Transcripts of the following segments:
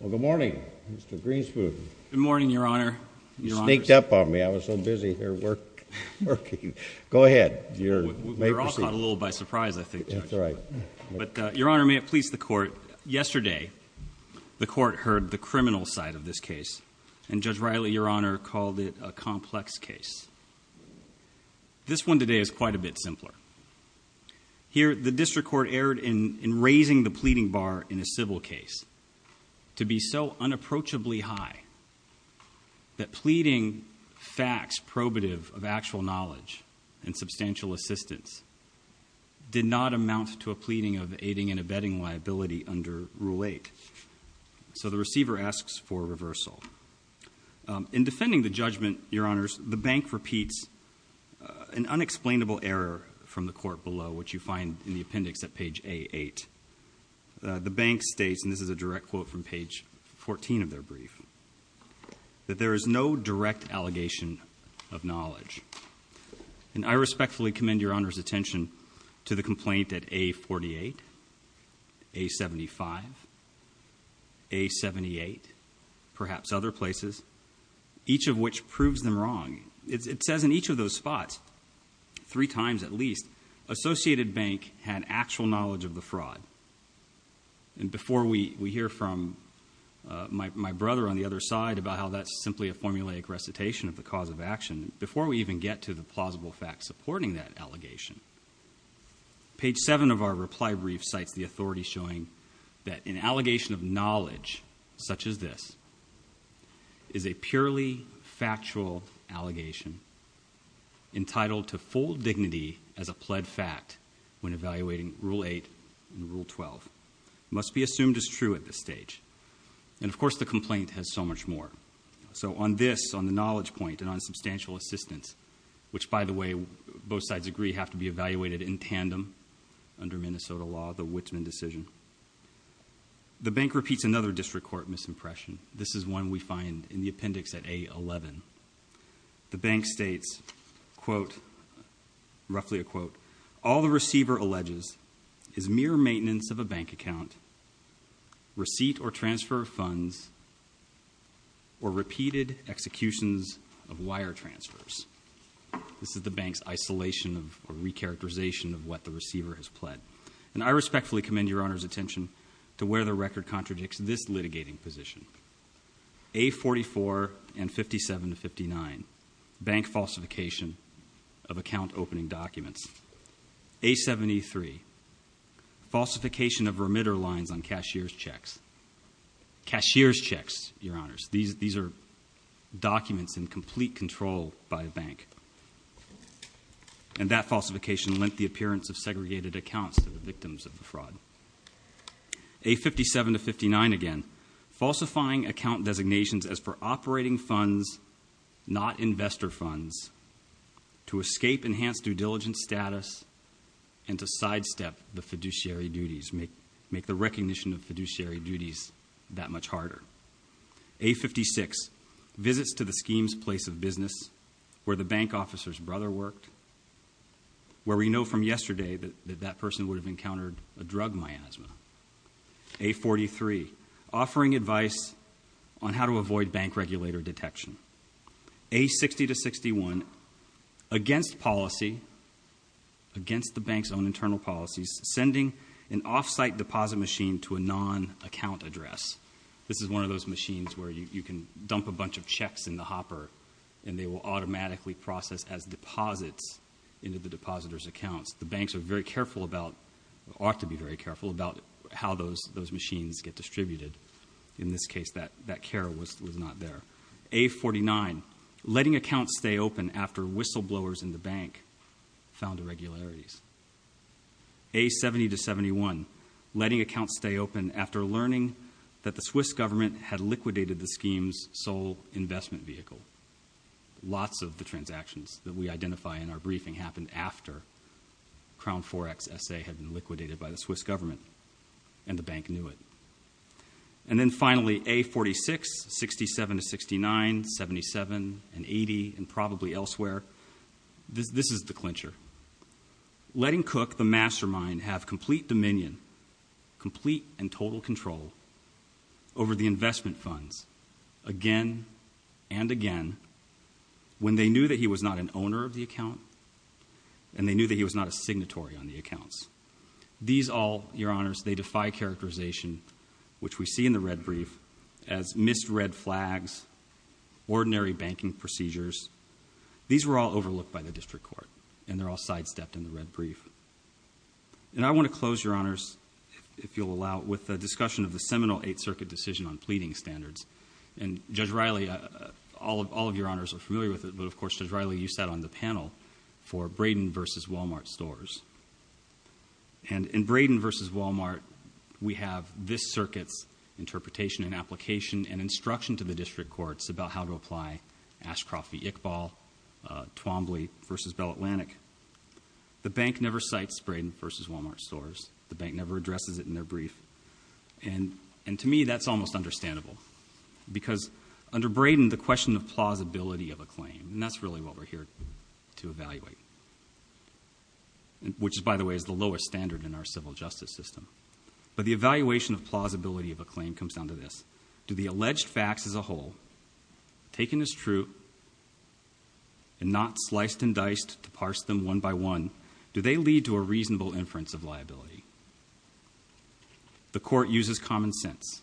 Well, good morning, Mr. Greenspoon. Good morning, Your Honor. You sneaked up on me. I was so busy here working. Go ahead. You may proceed. We're all caught a little by surprise, I think, Judge. That's right. But, Your Honor, may it please the Court, yesterday the Court heard the criminal side of this case, and Judge Riley, Your Honor, called it a complex case. This one today is quite a bit simpler. Here, the District Court erred in raising the pleading bar in a civil case to be so unapproachably high that pleading facts probative of actual knowledge and substantial assistance did not amount to a pleading of aiding and abetting liability under Rule 8. So the receiver asks for reversal. In defending the judgment, Your Honors, the bank repeats an unexplainable error from the Court below, which you find in the appendix at page A-8. The bank states, and this is a direct quote from page 14 of their brief, that there is no direct allegation of knowledge. And I respectfully commend Your Honor's attention to the complaint at A-48, A-75, A-78, perhaps other places, each of which proves them wrong. It says in each of those spots, three times at least, Associated Bank had actual knowledge of the fraud. And before we hear from my brother on the other side about how that's simply a formulaic recitation of the cause of action, before we even get to the plausible facts supporting that allegation, page 7 of our reply brief cites the authority showing that an allegation of knowledge such as this is a purely factual allegation entitled to full dignity as a pled fact when evaluating Rule 8 and Rule 12. It must be assumed as true at this stage. And, of course, the complaint has so much more. So on this, on the knowledge point and on substantial assistance, which, by the way, both sides agree have to be evaluated in tandem under Minnesota law, the Wittman decision, the bank repeats another district court misimpression. This is one we find in the appendix at A-11. The bank states, quote, roughly a quote, all the receiver alleges is mere maintenance of a bank account, receipt or transfer of funds, or repeated executions of wire transfers. This is the bank's isolation or recharacterization of what the receiver has pled. And I respectfully commend Your Honor's attention to where the record contradicts this litigating position. A-44 and 57-59, bank falsification of account opening documents. A-73, falsification of remitter lines on cashier's checks. Cashier's checks, Your Honors. These are documents in complete control by a bank. And that falsification lent the appearance of segregated accounts to the victims of the fraud. A-57 to 59 again, falsifying account designations as for operating funds, not investor funds, to escape enhanced due diligence status, and to sidestep the fiduciary duties, make the recognition of fiduciary duties that much harder. A-56, visits to the scheme's place of business where the bank officer's brother worked, where we know from yesterday that that person would have encountered a drug miasma. A-43, offering advice on how to avoid bank regulator detection. A-60 to 61, against policy, against the bank's own internal policies, sending an off-site deposit machine to a non-account address. This is one of those machines where you can dump a bunch of checks in the hopper, and they will automatically process as deposits into the depositor's accounts. The banks are very careful about, ought to be very careful about how those machines get distributed. In this case, that care was not there. A-49, letting accounts stay open after whistleblowers in the bank found irregularities. A-70 to 71, letting accounts stay open after learning that the Swiss government had liquidated the scheme's sole investment vehicle. Lots of the transactions that we identify in our briefing happened after Crown Forex S.A. had been liquidated by the Swiss government, and the bank knew it. And then finally, A-46, 67 to 69, 77 and 80, and probably elsewhere. This is the clincher. Letting Cook, the mastermind, have complete dominion, complete and total control, over the investment funds, again and again, when they knew that he was not an owner of the account, and they knew that he was not a signatory on the accounts. These all, Your Honors, they defy characterization, which we see in the red brief, as missed red flags, ordinary banking procedures. These were all overlooked by the district court, and they're all sidestepped in the red brief. And I want to close, Your Honors, if you'll allow, with a discussion of the seminal Eighth Circuit decision on pleading standards. And Judge Riley, all of your honors are familiar with it, but of course, Judge Riley, you sat on the panel for Braden v. Walmart stores. And in Braden v. Walmart, we have this circuit's interpretation and application and instruction to the district courts about how to apply Ashcroft v. Iqbal, Twombly v. Bell Atlantic. The bank never cites Braden v. Walmart stores. The bank never addresses it in their brief. And to me, that's almost understandable, because under Braden, the question of plausibility of a claim, and that's really what we're here to evaluate, which, by the way, is the lowest standard in our civil justice system. But the evaluation of plausibility of a claim comes down to this. Do the alleged facts as a whole, taken as true, and not sliced and diced to parse them one by one, do they lead to a reasonable inference of liability? The court uses common sense.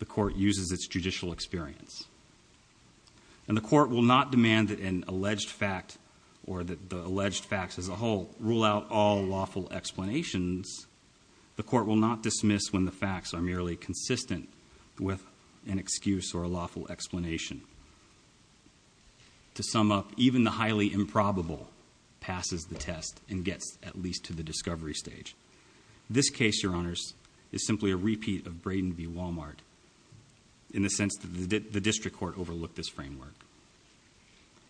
The court uses its judicial experience. And the court will not demand that an alleged fact or that the alleged facts as a whole rule out all lawful explanations. The court will not dismiss when the facts are merely consistent with an excuse or a lawful explanation. To sum up, even the highly improbable passes the test and gets at least to the discovery stage. This case, Your Honors, is simply a repeat of Braden v. Walmart in the sense that the district court overlooked this framework.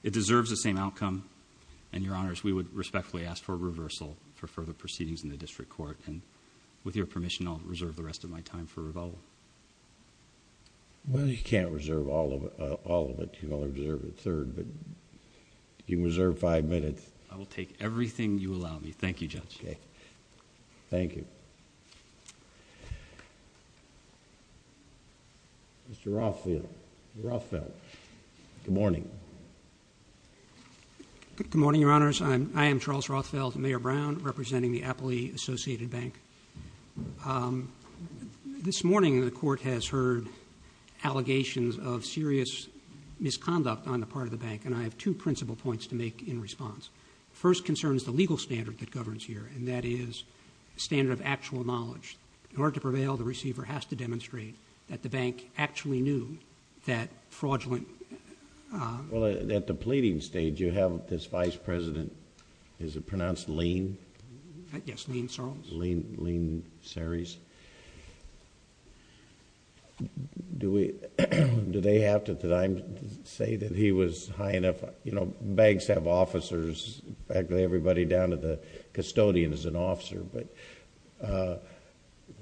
It deserves the same outcome, and, Your Honors, we would respectfully ask for a reversal for further proceedings in the district court. And with your permission, I'll reserve the rest of my time for revolve. Well, you can't reserve all of it. You only reserve a third, but you can reserve five minutes. I will take everything you allow me. Thank you, Judge. Okay. Thank you. Mr. Rothfeld. Mr. Rothfeld. Good morning. Good morning, Your Honors. I am Charles Rothfeld, Mayor Brown, representing the Appley Associated Bank. This morning, the court has heard allegations of serious misconduct on the part of the bank, and I have two principal points to make in response. The first concern is the legal standard that governs here, and that is the standard of actual knowledge. In order to prevail, the receiver has to demonstrate that the bank actually knew that fraudulent... Well, at the pleading stage, you have this vice president. Is it pronounced Lean? Yes, Lean Sarles. Lean Sarles. Do they have to say that he was high enough... You know, banks have officers. In fact, everybody down to the custodian is an officer, but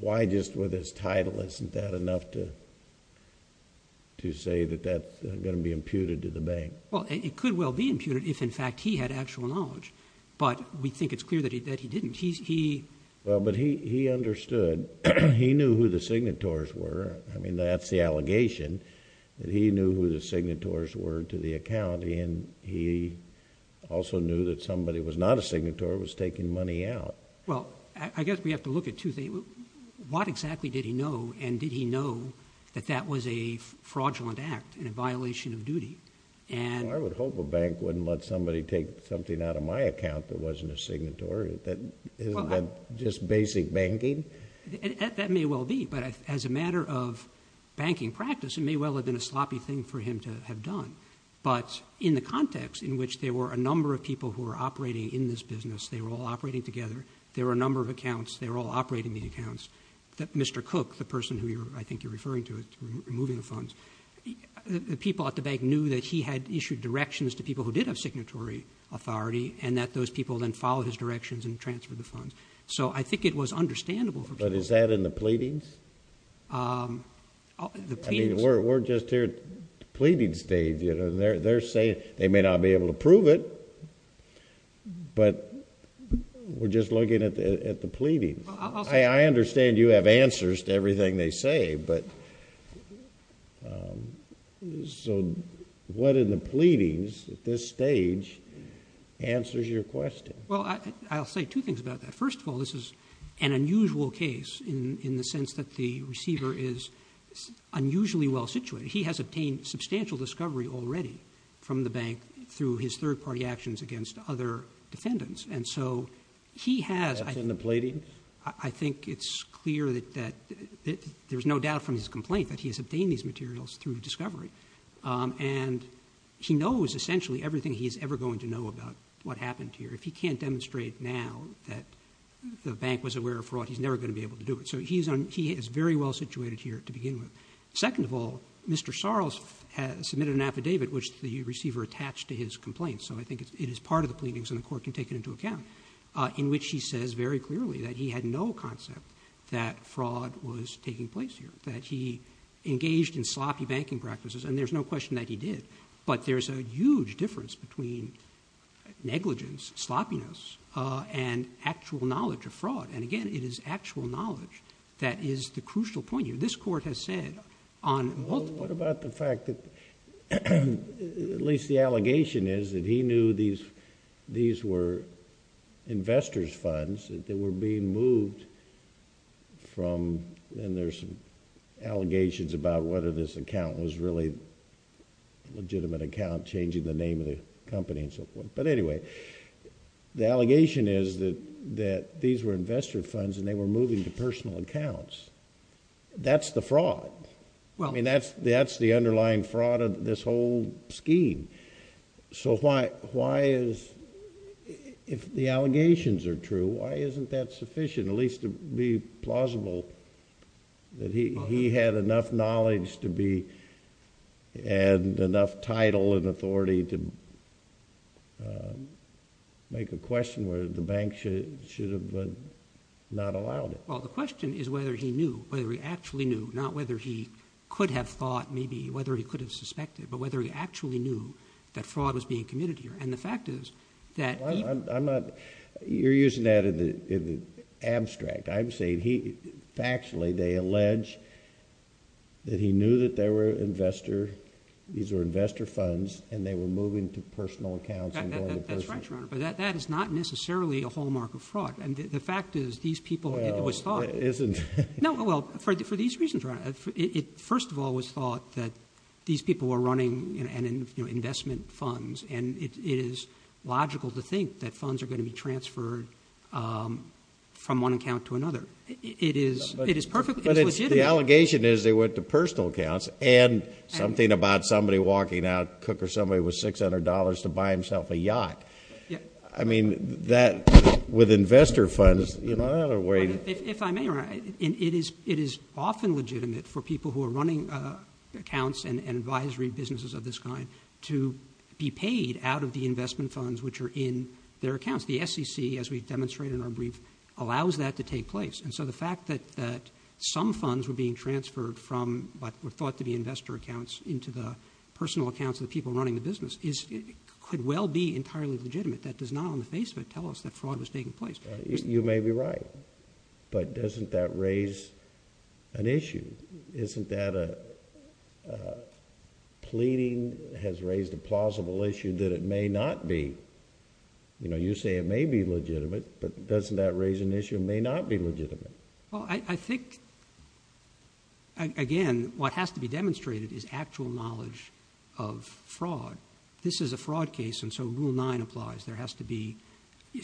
why just with his title isn't that enough to say that that's going to be imputed to the bank? Well, it could well be imputed if, in fact, he had actual knowledge, but we think it's clear that he didn't. He... Well, but he understood. He knew who the signatories were. I mean, that's the allegation, that he knew who the signatories were to the account, and he also knew that somebody who was not a signatory was taking money out. Well, I guess we have to look at two things. What exactly did he know, and did he know that that was a fraudulent act and a violation of duty? I would hope a bank wouldn't let somebody take something out of my account that wasn't a signatory. Isn't that just basic banking? That may well be, but as a matter of banking practice, it may well have been a sloppy thing for him to have done. But in the context in which there were a number of people who were operating in this business, they were all operating together, there were a number of accounts, they were all operating these accounts, that Mr. Cook, the person who I think you're referring to, the people at the bank knew that he had issued directions to people who did have signatory authority and that those people then followed his directions and transferred the funds. So I think it was understandable for people. But is that in the pleadings? I mean, we're just here at the pleading stage. They're saying they may not be able to prove it, but we're just looking at the pleadings. I understand you have answers to everything they say, but so what in the pleadings at this stage answers your question? Well, I'll say two things about that. First of all, this is an unusual case in the sense that the receiver is unusually well situated. He has obtained substantial discovery already from the bank through his third-party actions against other defendants, and so he has... That's in the pleadings? I think it's clear that there's no doubt from his complaint that he has obtained these materials through discovery, and he knows essentially everything he's ever going to know about what happened here. If he can't demonstrate now that the bank was aware of fraud, he's never going to be able to do it. So he is very well situated here to begin with. Second of all, Mr. Sarles submitted an affidavit, which the receiver attached to his complaint. So I think it is part of the pleadings, and the court can take it into account, in which he says very clearly that he had no concept that fraud was taking place here, that he engaged in sloppy banking practices, and there's no question that he did. But there's a huge difference between negligence, sloppiness, and actual knowledge of fraud. And again, it is actual knowledge that is the crucial point here. This court has said on multiple... Well, what about the fact that at least the allegation is that he knew that these were investors' funds that were being moved from... and there's some allegations about whether this account was really a legitimate account, changing the name of the company and so forth. But anyway, the allegation is that these were investor funds, and they were moving to personal accounts. That's the fraud. I mean, that's the underlying fraud of this whole scheme. So why is... if the allegations are true, why isn't that sufficient, at least to be plausible, that he had enough knowledge to be... and enough title and authority to make a question where the bank should have not allowed it? Well, the question is whether he knew, whether he actually knew, not whether he could have thought maybe, whether he could have suspected, but whether he actually knew that fraud was being committed here. And the fact is that... I'm not... you're using that in the abstract. I'm saying factually they allege that he knew that there were investor... these were investor funds, and they were moving to personal accounts. That's right, Your Honor. But that is not necessarily a hallmark of fraud. The fact is these people... Well, it isn't. No, well, for these reasons, Your Honor. First of all, it was thought that these people were running investment funds, and it is logical to think that funds are going to be transferred from one account to another. It is perfectly legitimate. But the allegation is they went to personal accounts, and something about somebody walking out, Cook or somebody with $600 to buy himself a yacht. I mean, that with investor funds... If I may, Your Honor, it is often legitimate for people who are running accounts and advisory businesses of this kind to be paid out of the investment funds which are in their accounts. The SEC, as we've demonstrated in our brief, allows that to take place. And so the fact that some funds were being transferred from what were thought to be investor accounts into the personal accounts of the people running the business could well be entirely legitimate. That does not on the face of it tell us that fraud was taking place. You may be right. But doesn't that raise an issue? Isn't that a... Pleading has raised a plausible issue that it may not be. You know, you say it may be legitimate, but doesn't that raise an issue it may not be legitimate? Well, I think, again, what has to be demonstrated is actual knowledge of fraud. This is a fraud case, and so Rule 9 applies. There has to be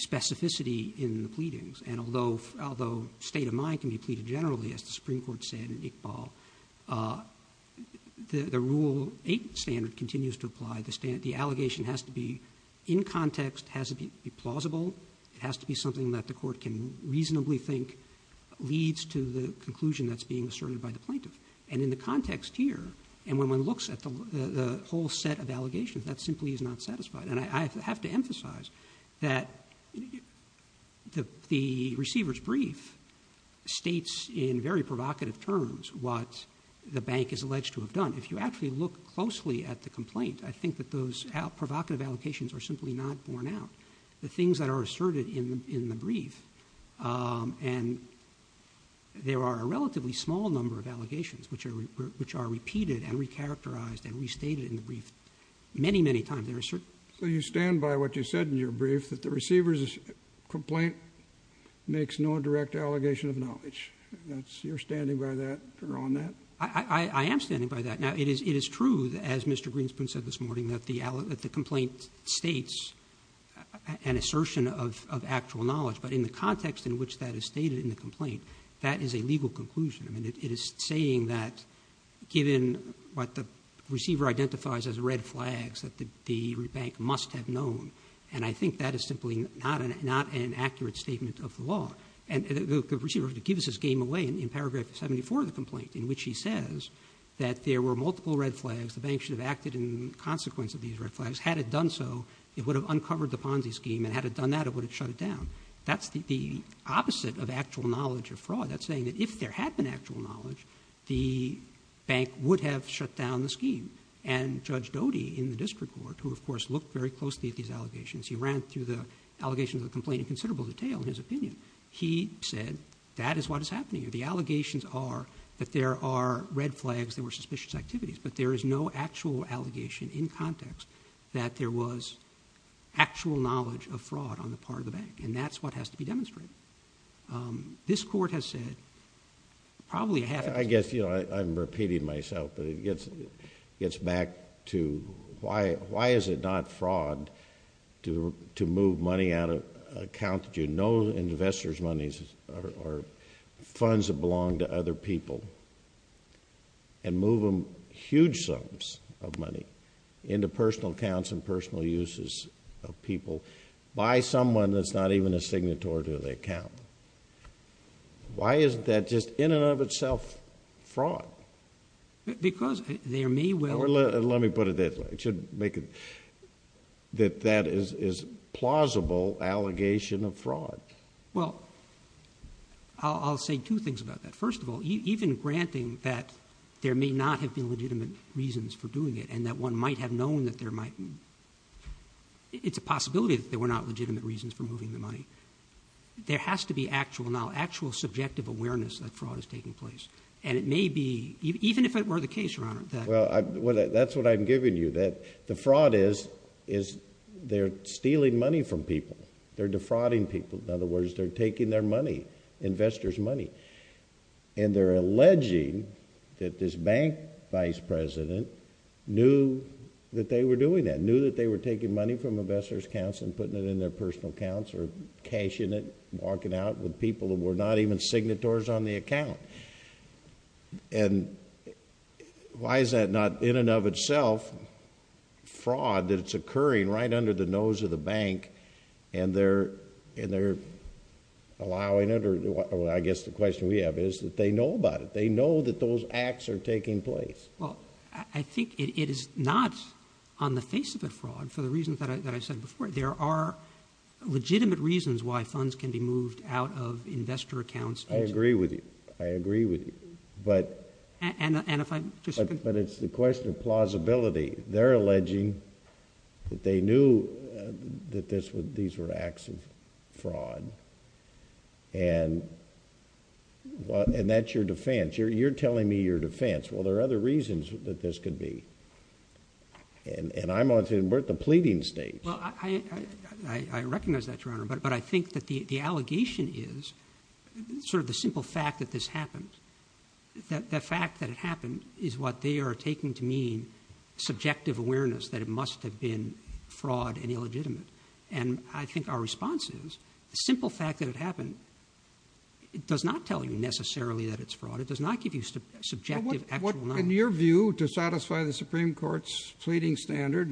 specificity in the pleadings. And although state of mind can be pleaded generally, as the Supreme Court said in Iqbal, the Rule 8 standard continues to apply. The allegation has to be in context, has to be plausible. It has to be something that the court can reasonably think leads to the conclusion that's being asserted by the plaintiff. And in the context here, and when one looks at the whole set of allegations, that simply is not satisfied. And I have to emphasize that the receiver's brief states in very provocative terms what the bank is alleged to have done. If you actually look closely at the complaint, I think that those provocative allocations are simply not borne out. The things that are asserted in the brief, and there are a relatively small number of allegations which are repeated and recharacterized and restated in the brief many, many times. So you stand by what you said in your brief, that the receiver's complaint makes no direct allegation of knowledge. You're standing by that or on that? I am standing by that. Now, it is true, as Mr. Greenspoon said this morning, that the complaint states an assertion of actual knowledge. But in the context in which that is stated in the complaint, that is a legal conclusion. I mean, it is saying that given what the receiver identifies as red flags, that the bank must have known. And I think that is simply not an accurate statement of the law. And the receiver gives his game away in paragraph 74 of the complaint, in which he says that there were multiple red flags, the bank should have acted in consequence of these red flags. Had it done so, it would have uncovered the Ponzi scheme. And had it done that, it would have shut it down. That's the opposite of actual knowledge of fraud. That's saying that if there had been actual knowledge, the bank would have shut down the scheme. And Judge Doty in the district court, who of course looked very closely at these allegations, he ran through the allegations of the complaint in considerable detail, in his opinion, he said that is what is happening here. The allegations are that there are red flags, there were suspicious activities, but there is no actual allegation in context that there was actual knowledge of fraud on the part of the bank. And that's what has to be demonstrated. This Court has said probably a half... It gets back to why is it not fraud to move money out of an account that you know investors' money or funds that belong to other people and move them, huge sums of money, into personal accounts and personal uses of people by someone that's not even a signatory to the account. Why is that just in and of itself fraud? Because there may well... Let me put it this way. It should make it that that is plausible allegation of fraud. Well, I'll say two things about that. First of all, even granting that there may not have been legitimate reasons for doing it and that one might have known that there might... It's a possibility that there were not legitimate reasons for moving the money. There has to be actual, now, actual subjective awareness that fraud is taking place. And it may be, even if it were the case, Your Honor... Well, that's what I'm giving you. The fraud is they're stealing money from people. They're defrauding people. In other words, they're taking their money, investors' money. And they're alleging that this bank vice president knew that they were doing that, knew that they were taking money from investors' accounts and putting it in their personal accounts or cashing it, walking out with people who were not even signatories on the account. And why is that not, in and of itself, fraud, that it's occurring right under the nose of the bank and they're allowing it? I guess the question we have is that they know about it. They know that those acts are taking place. Well, I think it is not on the face of a fraud for the reasons that I said before. There are legitimate reasons why funds can be moved out of investor accounts. I agree with you. I agree with you. But... And if I... But it's the question of plausibility. They're alleging that they knew that these were acts of fraud. And that's your defense. You're telling me your defense. Well, there are other reasons that this could be. And I'm on the pleading stage. Well, I recognize that, Your Honor, but I think that the allegation is sort of the simple fact that this happened. The fact that it happened is what they are taking to mean subjective awareness that it must have been fraud and illegitimate. And I think our response is the simple fact that it happened, it does not tell you necessarily that it's fraud. It does not give you subjective, actual knowledge. In your view, to satisfy the Supreme Court's pleading standard,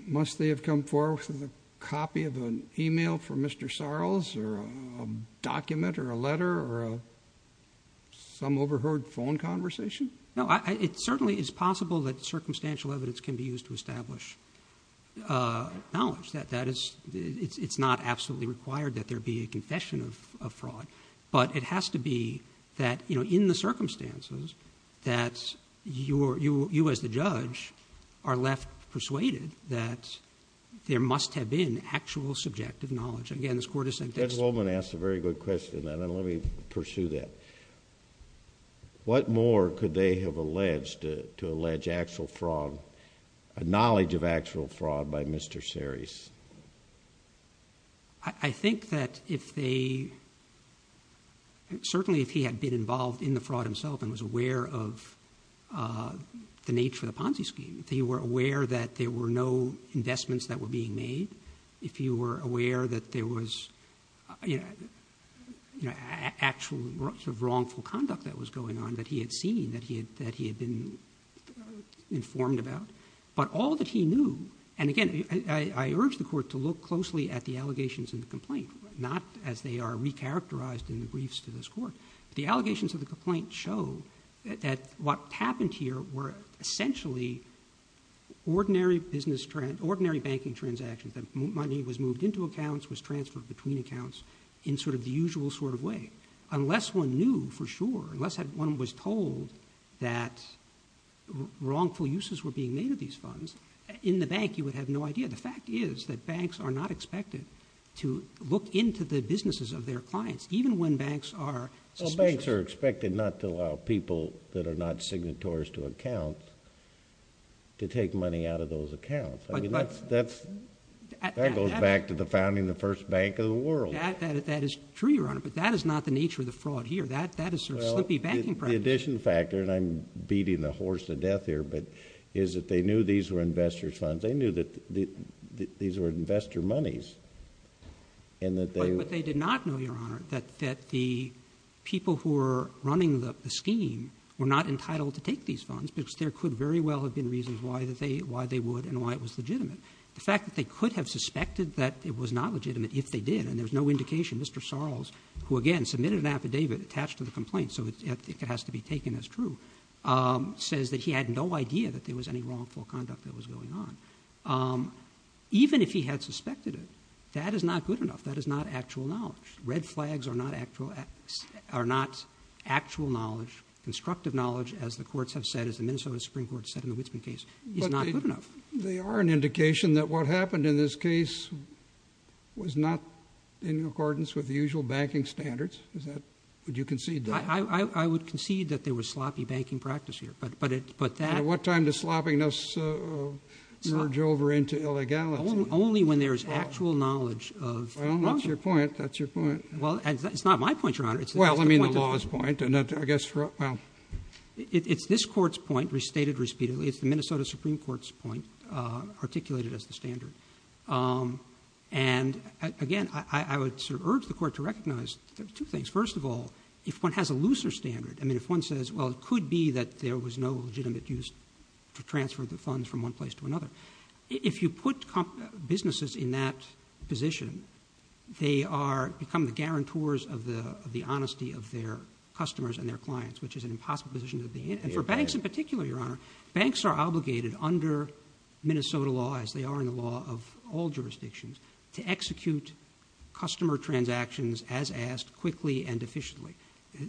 must they have come forward with a copy of an e-mail from Mr. Sarles or a document or a letter or some overheard phone conversation? No, it certainly is possible that circumstantial evidence can be used to establish knowledge. It's not absolutely required that there be a confession of fraud. But it has to be that in the circumstances that you as the judge are left persuaded that there must have been actual subjective knowledge. Again, this Court has said... Judge Goldman asked a very good question. Let me pursue that. What more could they have alleged to allege actual fraud, a knowledge of actual fraud by Mr. Sarles? I think that if they... certainly if he had been involved in the fraud himself and was aware of the nature of the Ponzi scheme, if he were aware that there were no investments that were being made, if he were aware that there was actual sort of wrongful conduct that was going on that he had seen, that he had been informed about. But all that he knew... And again, I urge the Court to look closely at the allegations in the complaint, not as they are recharacterized in the briefs to this Court. The allegations of the complaint show that what happened here were essentially ordinary banking transactions. The money was moved into accounts, was transferred between accounts, in sort of the usual sort of way. Unless one knew for sure, unless one was told that wrongful uses were being made of these funds, in the bank you would have no idea. The fact is that banks are not expected to look into the businesses of their clients, even when banks are suspicious. Banks are expected not to allow people that are not signatories to accounts to take money out of those accounts. That goes back to the founding of the first bank in the world. That is true, Your Honor, but that is not the nature of the fraud here. That is sort of slippy banking practice. Well, the addition factor, and I'm beating the horse to death here, is that they knew these were investors' funds. They knew that these were investor monies and that they... But they did not know, Your Honor, that the people who were running the scheme were not entitled to take these funds because there could very well have been reasons why they would and why it was legitimate. The fact that they could have suspected that it was not legitimate if they did, and there's no indication. Mr. Sarles, who again submitted an affidavit attached to the complaint, so it has to be taken as true, says that he had no idea that there was any wrongful conduct that was going on. Even if he had suspected it, that is not good enough. That is not actual knowledge. Red flags are not actual knowledge, constructive knowledge, as the courts have said, as the Minnesota Supreme Court said in the Witsman case. It's not good enough. They are an indication that what happened in this case was not in accordance with the usual banking standards. Would you concede that? I would concede that there was sloppy banking practice here, but that... At what time does sloppiness merge over into illegality? Only when there is actual knowledge of... Well, that's your point. That's your point. Well, it's not my point, Your Honor. Well, I mean the law's point, and I guess... It's this Court's point, restated repeatedly. It's the Minnesota Supreme Court's point, articulated as the standard. And, again, I would urge the Court to recognize two things. First of all, if one has a looser standard, I mean if one says, well, it could be that there was no legitimate use to transfer the funds from one place to another. If you put businesses in that position, they become the guarantors of the honesty of their customers and their clients, which is an impossible position to be in. And for banks in particular, Your Honor, banks are obligated under Minnesota law, as they are in the law of all jurisdictions, to execute customer transactions as asked, quickly and efficiently.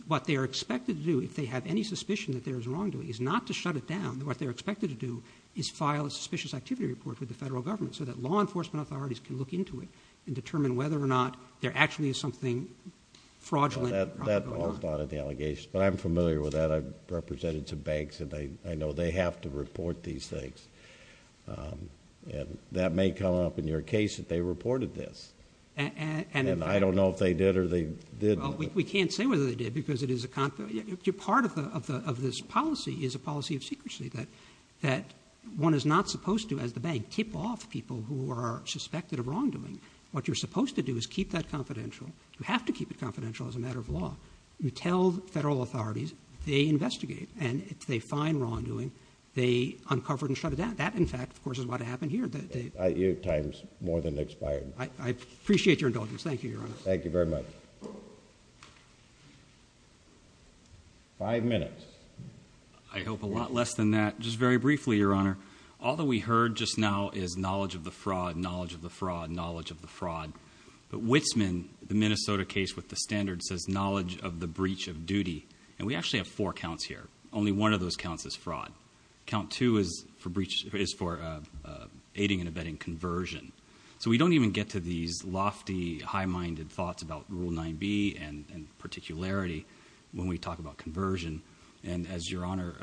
What they are expected to do, if they have any suspicion that there is wrongdoing, is not to shut it down. What they're expected to do is file a suspicious activity report with the federal government so that law enforcement authorities can look into it and determine whether or not there actually is something fraudulent going on. Well, that all started the allegations, but I'm familiar with that. I've represented some banks, and I know they have to report these things. And that may come up in your case if they reported this. And I don't know if they did or they didn't. Well, we can't say whether they did because it is a confidentiality. Part of this policy is a policy of secrecy, that one is not supposed to, as the bank, tip off people who are suspected of wrongdoing. What you're supposed to do is keep that confidential. You have to keep it confidential as a matter of law. You tell federal authorities, they investigate. And if they find wrongdoing, they uncover it and shut it down. That, in fact, of course, is what happened here. Your time has more than expired. I appreciate your indulgence. Thank you, Your Honor. Thank you very much. Five minutes. I hope a lot less than that. Just very briefly, Your Honor, all that we heard just now is knowledge of the fraud, knowledge of the fraud, knowledge of the fraud. But Wittsman, the Minnesota case with the standard, says knowledge of the breach of duty. And we actually have four counts here. Only one of those counts is fraud. Count two is for aiding and abetting conversion. So we don't even get to these lofty, high-minded thoughts about Rule 9b and particularity when we talk about conversion. And as Your Honor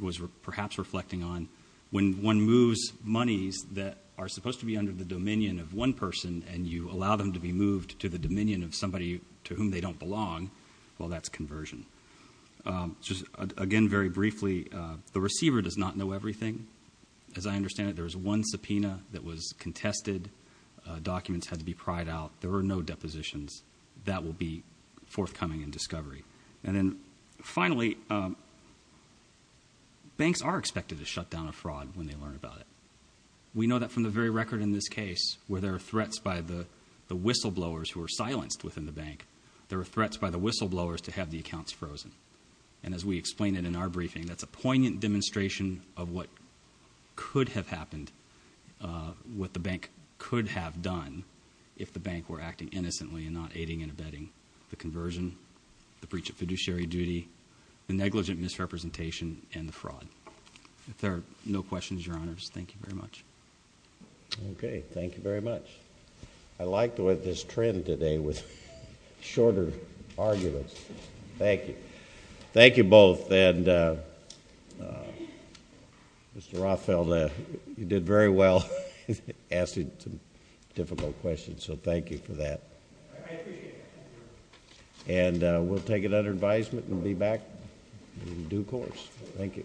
was perhaps reflecting on, when one moves monies that are supposed to be under the dominion of one person and you allow them to be moved to the dominion of somebody to whom they don't belong, well, that's conversion. Again, very briefly, the receiver does not know everything. As I understand it, there was one subpoena that was contested. Documents had to be pried out. There were no depositions. That will be forthcoming in discovery. And then finally, banks are expected to shut down a fraud when they learn about it. We know that from the very record in this case where there are threats by the whistleblowers who are silenced within the bank. There were threats by the whistleblowers to have the accounts frozen. And as we explained it in our briefing, that's a poignant demonstration of what could have happened, what the bank could have done, if the bank were acting innocently and not aiding and abetting the conversion, the breach of fiduciary duty, the negligent misrepresentation, and the fraud. If there are no questions, Your Honors, thank you very much. Okay. Thank you very much. I liked this trend today with shorter arguments. Thank you. Thank you both. And Mr. Rothfeld, you did very well asking some difficult questions, so thank you for that. I appreciate it. And we'll take it under advisement and be back in due course. Thank you. Thank you.